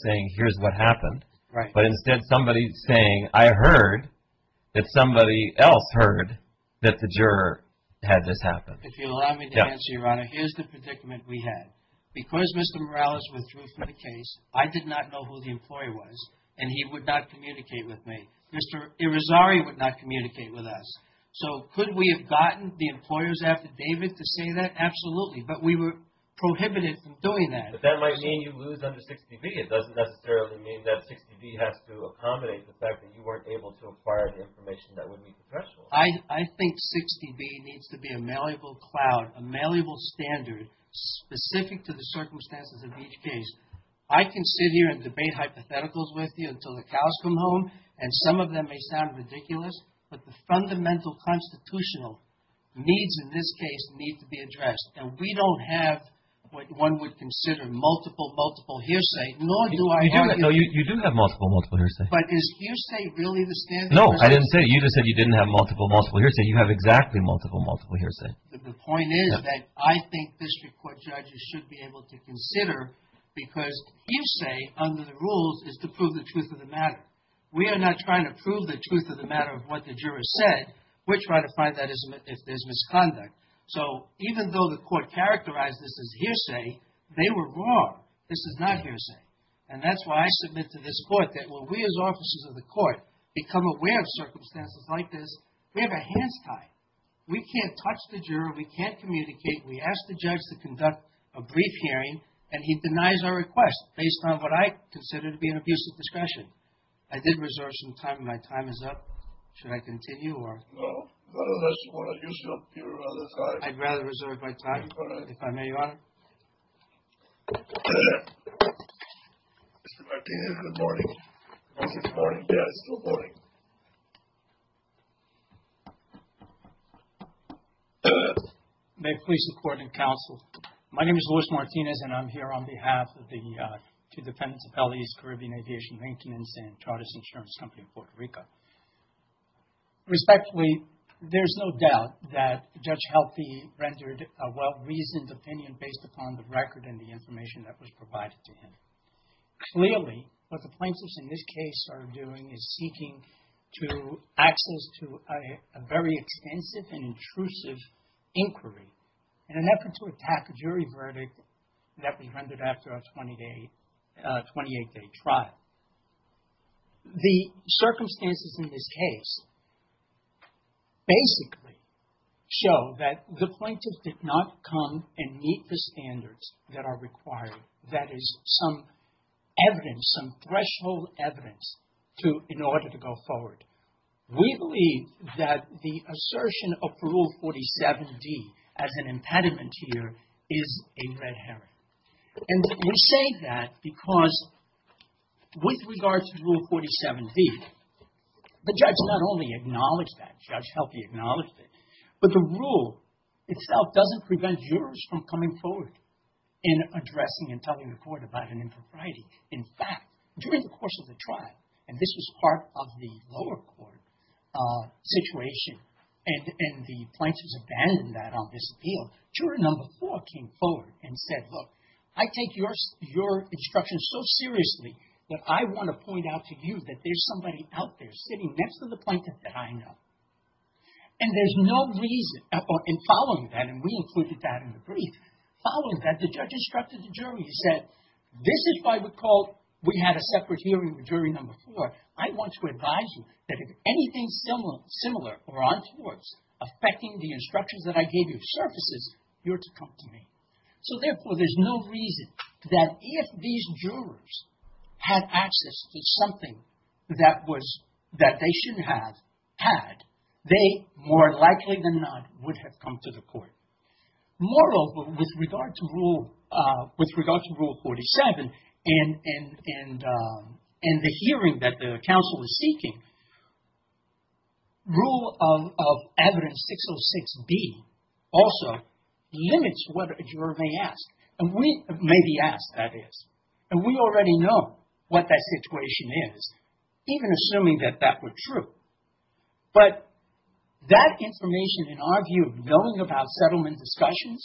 saying, here's what happened, but instead somebody saying, I heard that somebody else heard that the juror had this happen. If you'll allow me to answer, Your Honor, here's the predicament we had. Because Mr. Morales withdrew from the case, I did not know who the employer was, and he would not communicate with me. Mr. Irizarry would not communicate with us. So could we have gotten the employer's affidavit to say that? Absolutely. But we were prohibited from doing that. But that might mean you lose under 60B. It doesn't necessarily mean that 60B has to accommodate the fact that you weren't able to acquire the information that would meet the threshold. I think 60B needs to be a malleable cloud, a malleable standard, specific to the circumstances of each case. I can sit here and debate hypotheticals with you until the cows come home, and some of them may sound ridiculous, but the fundamental constitutional needs in this case need to be addressed. And we don't have what one would consider multiple, multiple hearsay, nor do I argue... You do have multiple, multiple hearsay. But is hearsay really the standard? No, I didn't say. You just said you didn't have multiple, multiple hearsay. You have exactly multiple, multiple hearsay. The point is that I think district court judges should be able to consider, because hearsay, under the rules, is to prove the truth of the matter. We are not trying to prove the truth of the matter of what the jurors said. We're trying to find that if there's misconduct. So, even though the court characterized this as hearsay, they were wrong. This is not hearsay. And that's why I submit to this court that when we as officers of the court become aware of circumstances like this, we have our hands tied. We can't touch the juror. We can't communicate. We ask the judge to conduct a brief hearing, and he denies our request, based on what I consider to be an abuse of discretion. I did reserve some time, and my time is up. Should I continue, or? No, not unless you want to use your other time. I'd rather reserve my time, if I may, Your Honor. Mr. Martinez, good morning. Is this morning? Yeah, it's still morning. May it please the court and counsel, My name is Luis Martinez, and I'm here on behalf of the two defendants of L.A.'s Caribbean Aviation Maintenance and Tardis Insurance Company of Puerto Rico. Respectfully, there's no doubt that Judge Healthy rendered a well-reasoned opinion based upon the record and the information that was provided to him. Clearly, what the plaintiffs in this case are doing is seeking to access to a very extensive and intrusive inquiry in an effort to attack a jury verdict that was rendered after a 28-day trial. The circumstances in this case basically show that the plaintiffs did not come and meet the standards that are required. That is, some evidence, some threshold evidence in order to go forward. We believe that the assertion of Rule 47D as an impediment here is a red herring. And we say that because with regard to Rule 47D, the judge not only acknowledged that, Judge Healthy acknowledged it, but the rule itself doesn't prevent jurors from coming forward and addressing and telling the court about an impropriety. In fact, during the course of the trial, and this was part of the lower court situation, and the plaintiffs abandoned that on this appeal, juror number four came forward and said, look, I take your instructions so seriously that I want to point out to you that there's somebody out there sitting next to the plaintiff that I know. And there's no reason, and following that, and we included that in the brief, following that, the judge instructed the jury. He said, this is why we called, we had a separate hearing with jury number four. I want to advise you that if anything similar or untowards affecting the instructions that I gave you surfaces, you're to come to me. So, therefore, there's no reason that if these jurors had access to something that was, that they shouldn't have had, they more likely than not would have come to the court. Moreover, with regard to rule, with regard to rule 47 and the hearing that the counsel is seeking, rule of evidence 606B also limits what a juror may ask. And we, may be asked, that is. And we already know what that situation is, even assuming that that were true. But that information, in our view, knowing about settlement discussions,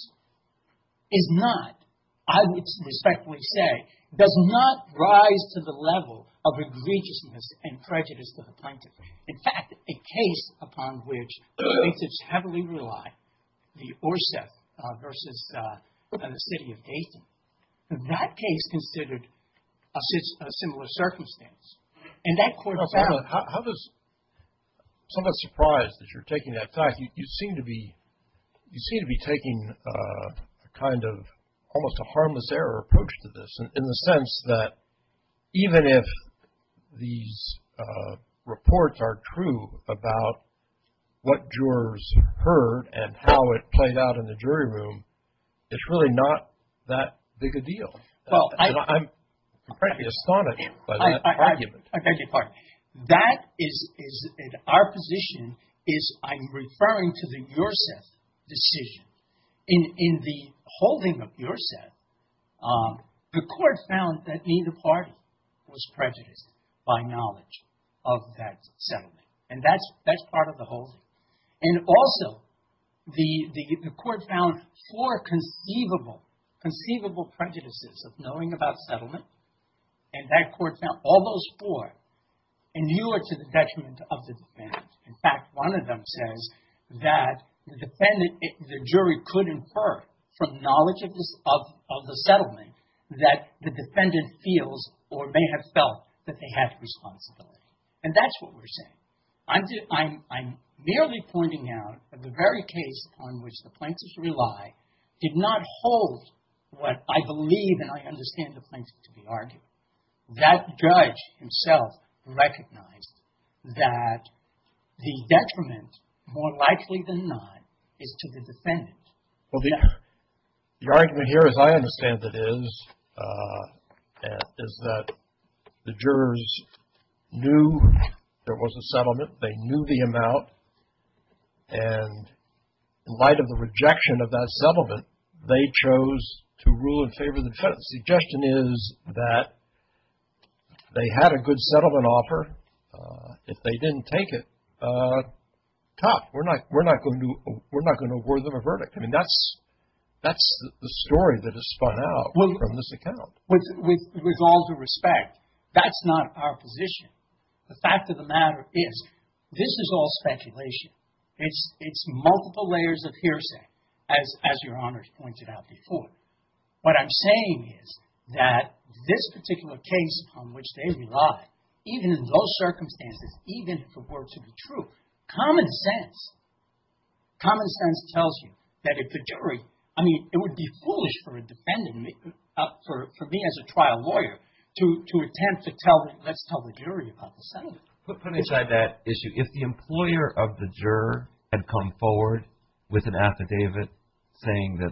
is not, I would respectfully say, does not rise to the level of egregiousness and prejudice to the plaintiff. In fact, a case upon which plaintiffs heavily rely, the Orseth versus the City of Dayton, that case considered a similar circumstance. And that court found. How does, I'm somewhat surprised that you're taking that back. You seem to be, you seem to be taking a kind of almost a harmless error approach to this, in the sense that even if these reports are true about what jurors heard and how it played out in the jury room, it's really not that big a deal. I'm frankly astonished by that argument. I beg your pardon. That is, our position is, I'm referring to the Urseth decision. In the holding of Urseth, the court found that neither party was prejudiced by knowledge of that settlement. And that's part of the holding. And also, the court found four conceivable, conceivable prejudices of knowing about settlement. And that court found all those four inured to the detriment of the defendant. In fact, one of them says that the defendant, the jury could infer from knowledge of the settlement that the defendant feels or may have felt that they had responsibility. And that's what we're saying. I'm merely pointing out that the very case on which the plaintiffs rely did not hold what I believe and I understand the plaintiffs to be arguing. That judge himself recognized that the detriment, more likely than not, is to the defendant. Well, the argument here, as I understand it, is that the jurors knew there was a settlement. They knew the amount. And in light of the rejection of that settlement, they chose to rule in favor of the defendant. The suggestion is that they had a good settlement offer. If they didn't take it, we're not going to award them a verdict. I mean, that's the story that is spun out from this account. With all due respect, that's not our position. The fact of the matter is, this is all speculation. It's multiple layers of hearsay, as Your Honors pointed out before. What I'm saying is that this particular case on which they rely, even in those circumstances, even if it were to be true, common sense, common sense tells you that if the jury, I mean, it would be foolish for a defendant, for me as a trial lawyer, to attempt to tell, let's tell the jury about the settlement. Put aside that issue. If the employer of the juror had come forward with an affidavit saying that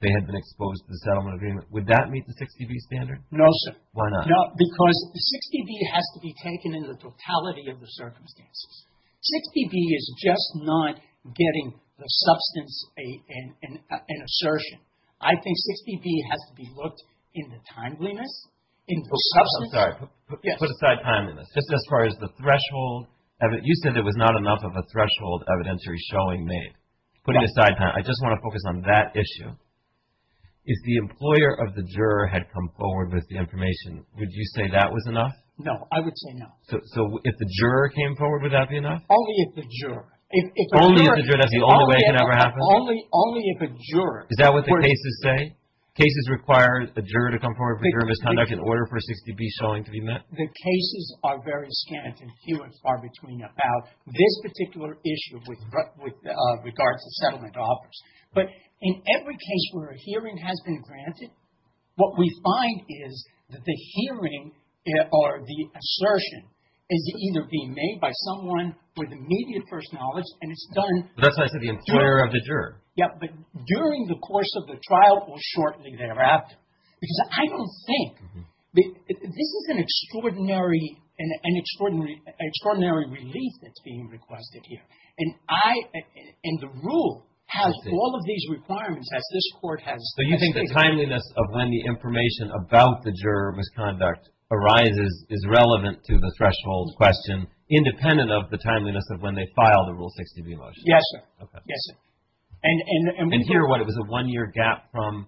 they had been exposed to the settlement agreement, would that meet the 60B standard? No, sir. Why not? Because 60B has to be taken in the totality of the circumstances. 60B is just not getting the substance, an assertion. I think 60B has to be looked in the timeliness, in the substance. I'm sorry. Put aside timeliness. Just as far as the threshold. You said there was not enough of a threshold evidentiary showing made. Putting aside time. I just want to focus on that issue. If the employer of the juror had come forward with the information, would you say that was enough? No. I would say no. So if the juror came forward, would that be enough? Only if the juror. Only if the juror. That's the only way it could ever happen? Only if a juror. Is that what the cases say? Cases require a juror to come forward for juror misconduct in order for a 60B showing to be met? The cases are very scant and few and far between about this particular issue with regards to settlement offers. But in every case where a hearing has been granted, what we find is that the hearing or the assertion is either being made by someone with immediate first knowledge and it's done. That's why I said the employer of the juror. Yeah. But during the course of the trial or shortly thereafter. Because I don't think. This is an extraordinary relief that's being requested here. And I and the rule has all of these requirements as this Court has. So you think the timeliness of when the information about the juror misconduct arises is relevant to the threshold question independent of the timeliness of when they file the Rule 60B motion? Yes, sir. Yes, sir. And here what? It was a one-year gap from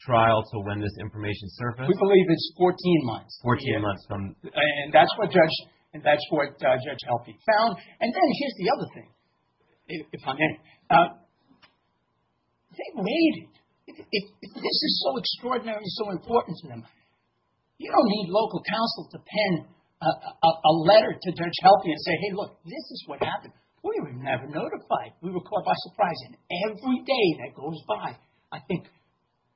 trial to when this information surfaced? We believe it's 14 months. 14 months from. And that's what Judge Helpe found. And then here's the other thing, if I may. They made it. This is so extraordinary and so important to them. You don't need local counsel to pen a letter to Judge Helpe and say, hey, look, this is what happened. We were never notified. We were caught by surprise. And every day that goes by, I think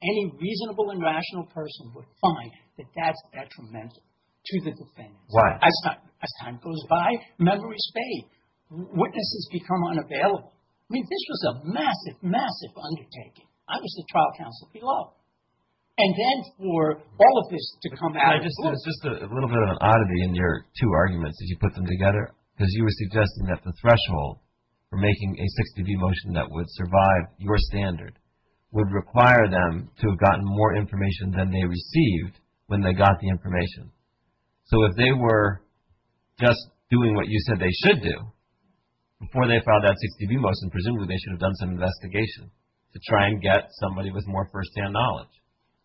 any reasonable and rational person would find that that's detrimental to the defendant. Why? As time goes by, memories fade. Witnesses become unavailable. I mean, this was a massive, massive undertaking. I was the trial counsel below. And then for all of this to come out of this. Just a little bit of an oddity in your two arguments as you put them together, because you were suggesting that the threshold for making a 60B motion that would survive your standard would require them to have gotten more information than they received when they got the information. So if they were just doing what you said they should do before they filed that 60B motion, presumably they should have done some investigation to try and get somebody with more first-hand knowledge.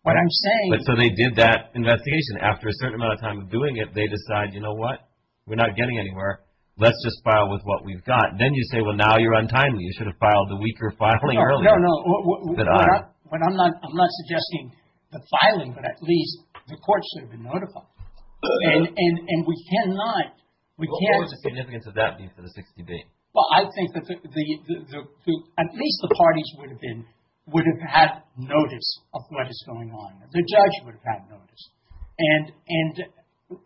What I'm saying... So they did that investigation. After a certain amount of time of doing it, they decide, you know what, we're not getting anywhere. Let's just file with what we've got. Then you say, well, now you're untimely. You should have filed the weaker filing earlier. No, no. I'm not suggesting the filing, but at least the court should have been notified. And we can't deny it. We can't... What would the significance of that be for the 60B? Well, I think that at least the parties would have been, would have had notice of what is going on. The judge would have had notice. And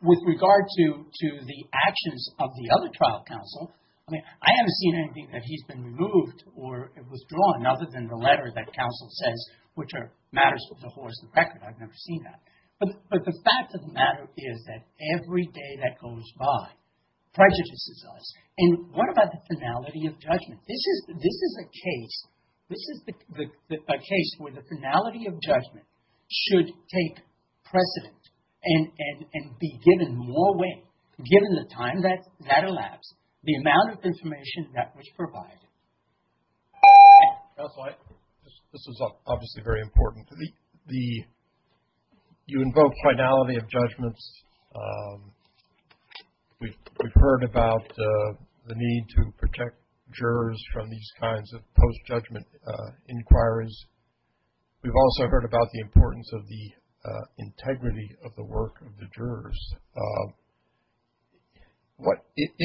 with regard to the actions of the other trial counsel, I mean, I haven't seen anything that he's been removed or withdrawn other than the letter that counsel says which matters to the horse and the record. I've never seen that. But the fact of the matter is that every day that goes by prejudices us. And what about the finality of judgment? This is a case. This is a case where the finality of judgment should take precedent and be given more weight given the time that elapsed, the amount of information that was provided. This is obviously very important to me. You invoke finality of judgments. We've heard about the need to protect jurors from these kinds of post-judgment inquiries. We've also heard about the importance of the integrity of the work of the jurors. If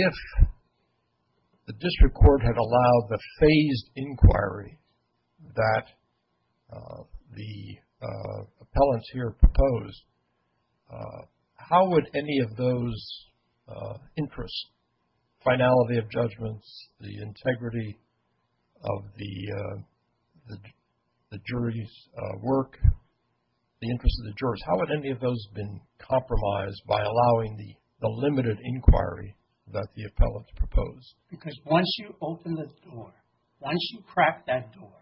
the district court had allowed the phased inquiry that the appellants here proposed, how would any of those interests, finality of judgments, the integrity of the jury's work, the interest of the jurors, how would any of those have been compromised by allowing the limited inquiry that the appellants proposed? Because once you open the door, once you crack that door,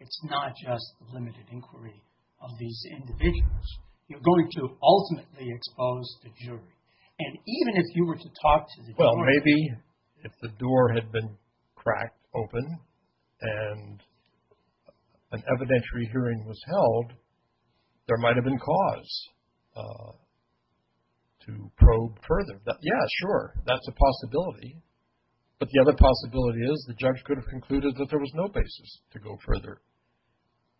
it's not just limited inquiry of these individuals. You're going to ultimately expose the jury. And even if you were to talk to the jury... Well, maybe if the door had been cracked open and an evidentiary hearing was held, there might have been cause to probe further. Yeah, sure. That's a possibility. But the other possibility is the judge could have concluded that there was no basis to go further.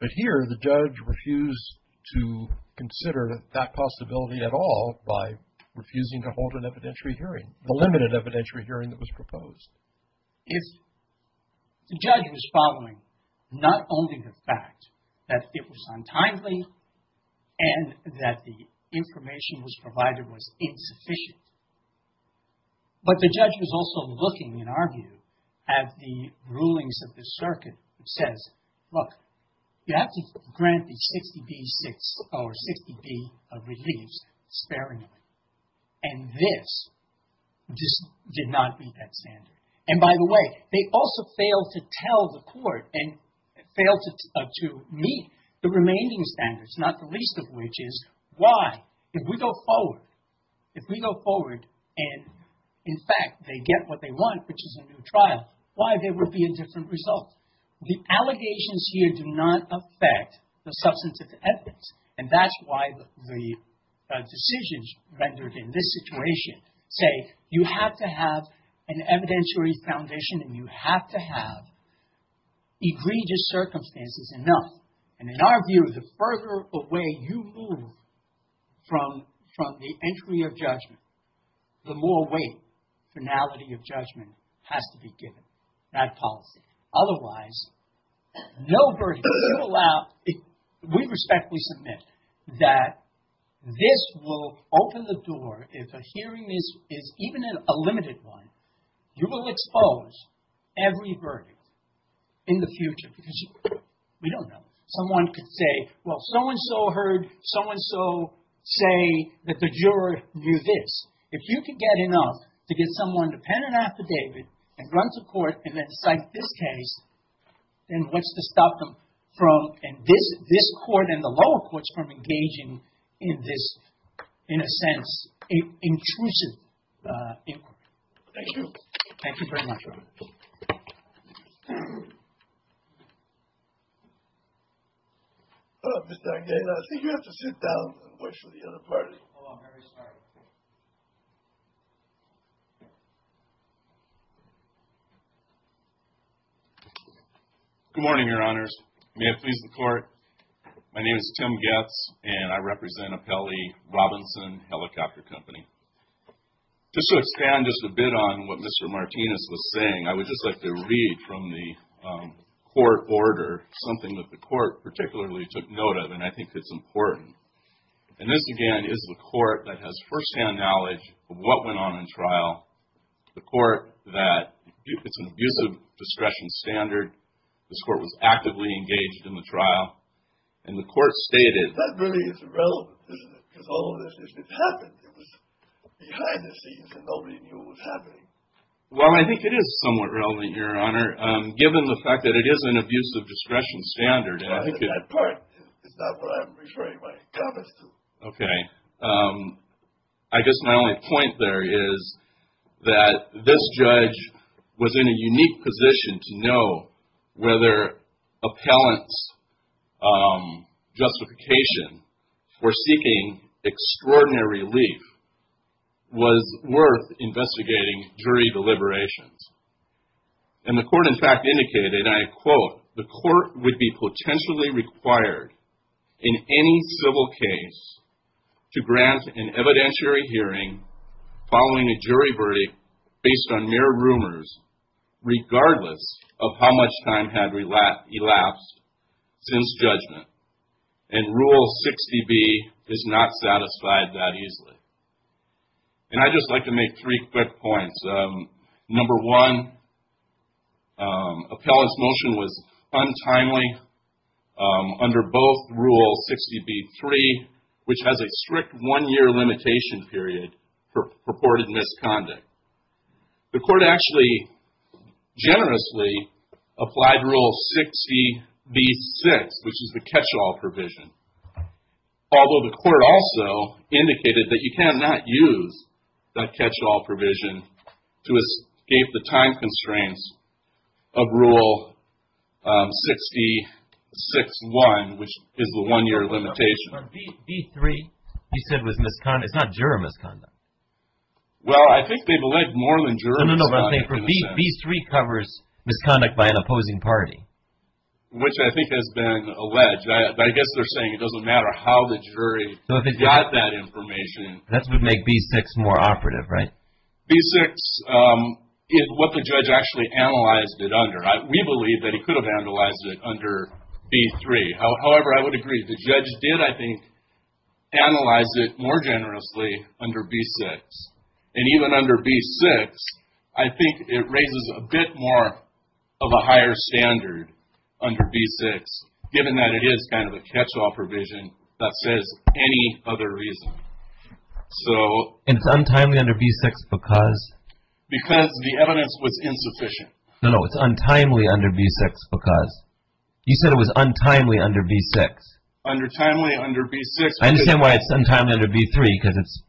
But here, the judge refused to consider that possibility at all by refusing to hold an evidentiary hearing, a limited evidentiary hearing that was proposed. If the judge was following not only the fact that it was untimely and that the information was provided was insufficient, but the judge was also looking, in our view, at the rulings of the circuit, which says, look, you have to grant the 60B or 60B of reliefs, sparing them. And this did not meet that standard. And by the way, they also failed to tell the court and failed to meet the remaining standards, not the least of which is, why, if we go forward, if we go forward and, in fact, they get what they want, which is a new trial, why there would be a different result? The allegations here do not affect the substantive evidence. And that's why the decisions rendered in this situation say you have to have an evidentiary foundation and you have to have egregious circumstances enough. And in our view, the further away you move from the entry of judgment, the more weight, finality of judgment, has to be given, that policy. Otherwise, no verdict. You allow, we respectfully submit that this will open the door if a hearing is even a limited one, you will expose every verdict in the future because we don't know. Someone could say, well, so-and-so heard, so-and-so say that the juror knew this. If you could get enough to get someone dependent affidavit and run to court and then cite this case, then what's to stop them from, and this court and the lower courts from engaging in this, in a sense, intrusive inquiry? Thank you. Thank you very much, Robert. Mr. Agnew, I think you have to sit down and wait for the other party. Oh, I'm very sorry. Good morning, Your Honors. May it please the Court. My name is Tim Goetz and I represent Apelli Robinson Helicopter Company. Just to expand just a bit on what Mr. Martinez was saying, I would just like to read from the court order, something that the court particularly took note of and I think it's important. And this, again, is the court that has first-hand knowledge of what went on in trial. The court that, it's an abusive discretion standard. This court was actively engaged in the trial and the court stated, That really is irrelevant, isn't it? Because all of this, it happened. It was behind the scenes and nobody knew what was happening. Well, I think it is somewhat relevant, Your Honor, given the fact that it is an abusive discretion standard and I think it... That part is not what I'm referring my comments to. Okay. I guess my only point there is that this judge was in a unique position to know whether appellant's justification for seeking extraordinary relief was worth investigating jury deliberations. And the court, in fact, indicated, and I quote, The court would be potentially required in any civil case to grant an evidentiary hearing following a jury verdict based on mere rumors regardless of how much time had elapsed since judgment and Rule 60B is not satisfied that easily. And I'd just like to make three quick points. Number one, appellant's motion was untimely under both Rule 60B-3 which has a strict one-year limitation period for purported misconduct. The court actually generously applied Rule 60B-6 which is the catch-all provision although the court also indicated that you cannot use that catch-all provision to escape the time constraints of Rule 60-6-1 which is the one-year limitation. But B-3 you said was misconduct. It's not juror misconduct. Well, I think they've alleged more than juror misconduct. No, no, no. B-3 covers misconduct by an opposing party. Which I think has been alleged. But I guess they're saying it doesn't matter how the jury got that information. That's what made B-6 more operative, right? B-6 is what the judge actually analyzed it under. We believe that he could have analyzed it under B-3. However, I would agree. The judge did, I think, analyze it more generously under B-6. And even under B-6 I think it raises a bit more of a higher standard under B-6 given that it is kind of a catch-all provision that says any other reason. So And it's untimely under B-6 because? Because the evidence was insufficient. No, no. It's untimely under B-6 because? You said it was untimely under B-6. Untimely under B-6 I understand why it's untimely under B-3 because it's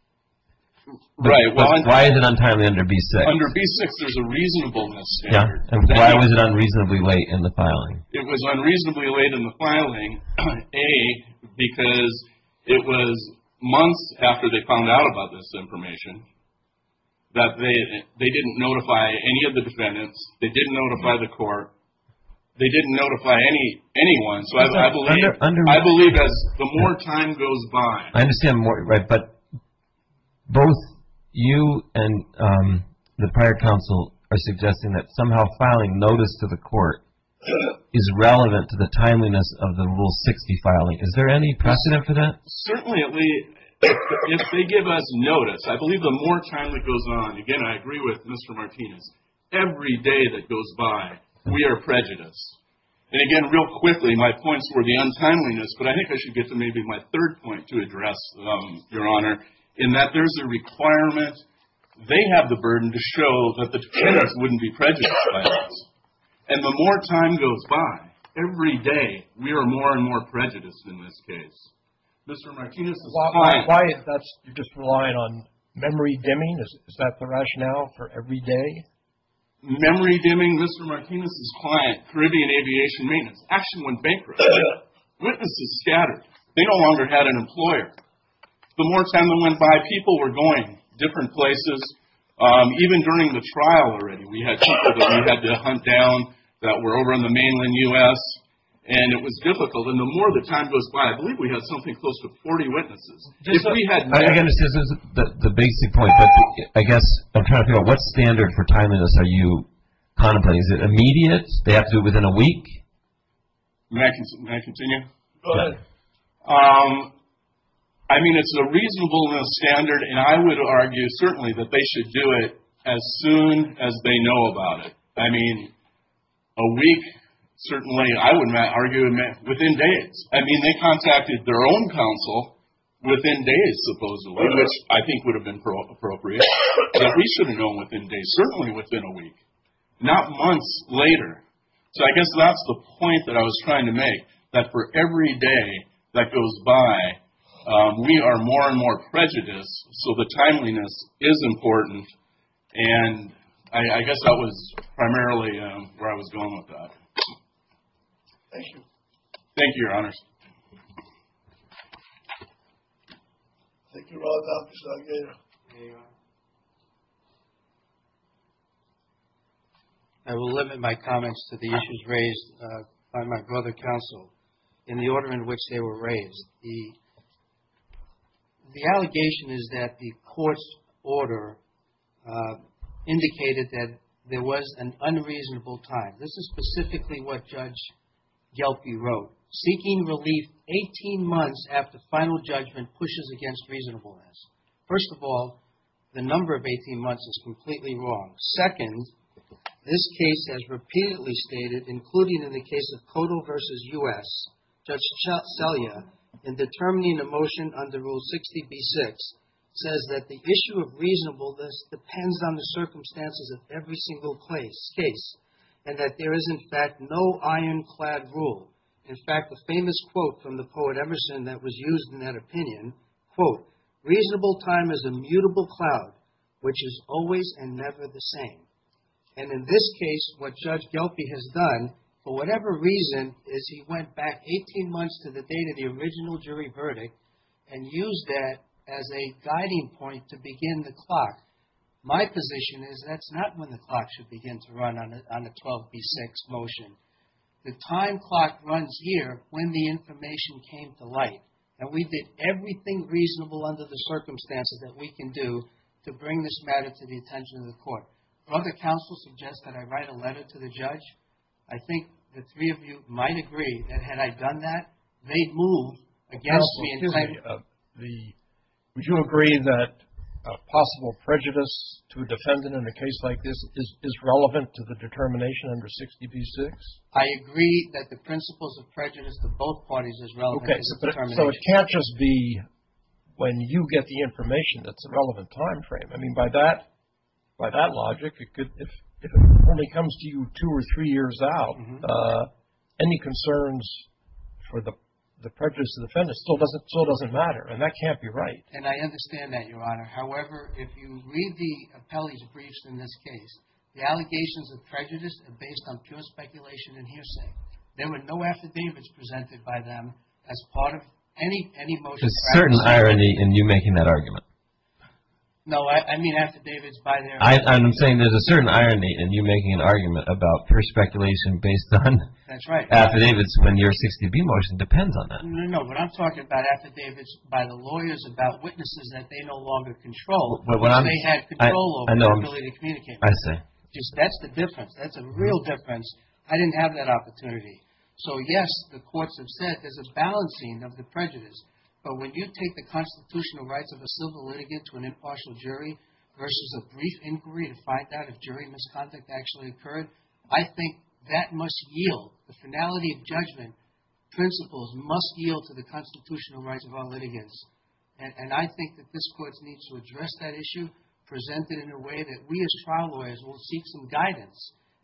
Right. But why is it untimely under B-6? Under B-6 there's a reasonableness standard. And why was it unreasonably late in the filing? It was unreasonably late in the filing A, because it was months after they found out about this information that they they didn't notify any of the defendants they didn't notify the court they didn't notify any anyone So I believe as the more time goes by I understand but both you and the prior counsel are suggesting that somehow filing notice to the court is relevant to the timeliness of the Rule 60 filing. Is there any precedent for that? Certainly if they give us notice I believe the more time that goes on again I agree with Mr. Martinez every day that goes by we are prejudiced and again real quickly my points were the untimeliness but I think I should get to maybe my third point to address Your Honor in that there's a requirement they have the burden to show that the defendants wouldn't be prejudiced by us and the more time goes by every day we are more and more prejudiced in this case Mr. Martinez is client Why is that you're just relying on memory dimming is that the rationale for every day? Memory dimming Mr. Martinez is client Caribbean Aviation Maintenance action went bankrupt witnesses scattered they no longer had an employer the more time that went by people were going different places even during the trial already we had people that we had to hunt down that were over in the mainland U.S. and it was difficult and the more the time goes by I believe we had something close to 40 witnesses I understand this is the basic point but I guess I'm trying to figure out what standard for timeliness are you contemplating is it immediate they have to do it within a week may I continue go ahead I mean it's a reasonable standard and I would argue certainly that they should do it as soon as they know about it I mean a week certainly I would not argue within days I mean they contacted their own council within days supposedly which I think would have been appropriate that we should have known within days certainly within a week not months later so I guess that's the point that I was trying to make that for every day that goes by we are more and more prejudiced so the timeliness is important and I guess that was primarily where I was going with that thank you thank you your honors thank you Dr. Salgater I will limit my comments to the issues raised by my colleagues by my brother counsel in the order in which they were raised the the allegation is that the court's order indicated that there was an unreasonable time this is specifically what Judge Gelphi wrote seeking relief 18 months after final judgment pushes against reasonableness first of all the number of 18 months is completely wrong second this case has repeatedly stated including in the case of Cotto vs. U.S. Judge Celia in determining a motion under rule 60b-6 says that the issue of reasonableness depends on the circumstances of every single place case and that there is in fact no iron clad rule in fact the famous quote from and in this case what Judge Gelphi has done for whatever reason is he went back 18 months to the date of the original jury verdict and used that as a guiding point to begin the clock my position is that's not when the clock should begin to run on a 12b-6 motion the time clock runs here when the information came to light and we did everything reasonable under the circumstances that we can do to bring this matter to the attention of the court. But other counsel suggest that I write a letter to the judge. I think the three of you might agree that had I done that they'd move against me and say the would you agree that possible prejudice to a defendant in a case like this is relevant to the determination under 60b-6? I agree that the principles of prejudice to both parties is relevant to the determination. So it can't just be when you get the information that's a relevant time frame. I mean by that logic if it only comes to you two or three years out any concerns for the prejudice to the defendant still doesn't matter. And that can't be right. And I understand that Your Honor. However, if you read the appellee's briefs in this case the allegations of prejudice are based on pure speculation and hearsay. There were no affidavits presented by them as part of any motion drafted. There's a certain irony in you making an argument about pure speculation based on affidavits when your 60B motion depends on that. No, no. What I'm talking about affidavits by the lawyers about witnesses that they no longer control because they had control over their ability to communicate. I see. That's the difference. That's a real difference. I didn't have that opportunity. So yes, the courts have said that there's a balancing of the prejudice. But when you take the constitutional rights of a civil litigant to an impartial jury versus a brief inquiry to find out if jury misconduct actually occurred, I think that must yield. The finality of judgment principles must yield to the constitutional rights of our litigants. And I think that this court needs to address that issue, present it in a way that we as trial lawyers will seek some guidance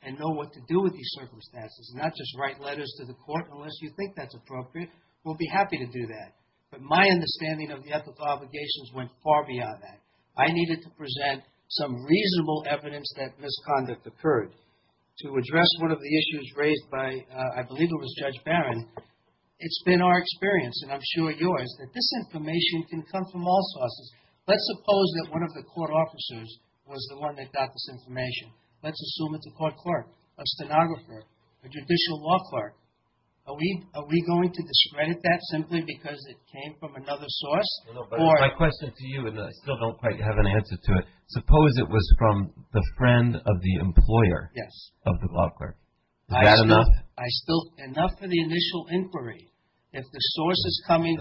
and know what to do with these circumstances, not just write letters to the court unless you think that's appropriate. We'll be happy to do that. But my understanding of the ethical obligations went far beyond that. I needed to present some reasonable evidence that misconduct occurred. To address one of the most important when I was talking to the court officers was the one that got this information. Let's assume court clerk, a stenographer, a judicial law clerk. Are we going to discredit that simply because it came from another source? Or My question to you, and I still don't quite have an answer to it, suppose it was from the friend of the employer of the law clerk. Is that enough? I still, enough for the initial inquiry. If the source is coming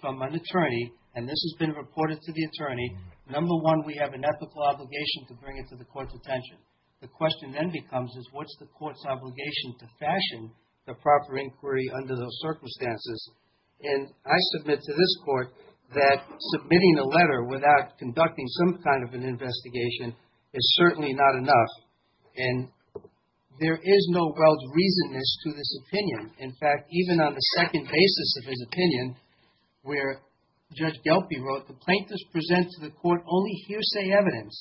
from an attorney and this has been reported to the attorney, number one, we have an ethical obligation to bring it to the court's attention. The question then becomes is what's the court's obligation to fashion the proper inquiry under those circumstances? And I submit to this court that submitting a letter without conducting some kind of an investigation is certainly not enough. And there is no detailed reasonness to this opinion. In fact, even on the second basis of his opinion, where Judge Gelpie wrote, the plaintiffs present to the court only hearsay evidence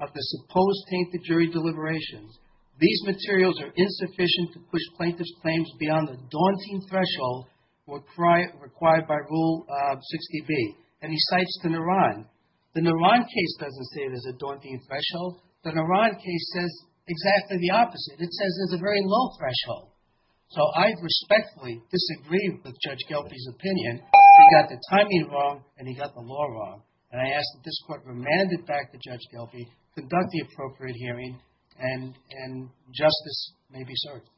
of the supposed tainted jury deliberations. These materials are insufficient to plaintiffs' claims beyond the daunting threshold required by Rule 60B. And he cites the Naran. The Naran case doesn't say there's a daunting threshold. The Naran case says exactly the opposite. It says there's a very low threshold. So I respectfully disagree with Judge Gelpie's opinion. He got the timing wrong and he got the law wrong. And I ask that this court remand it back to Judge conduct the appropriate hearing, and justice may be served. Thank you,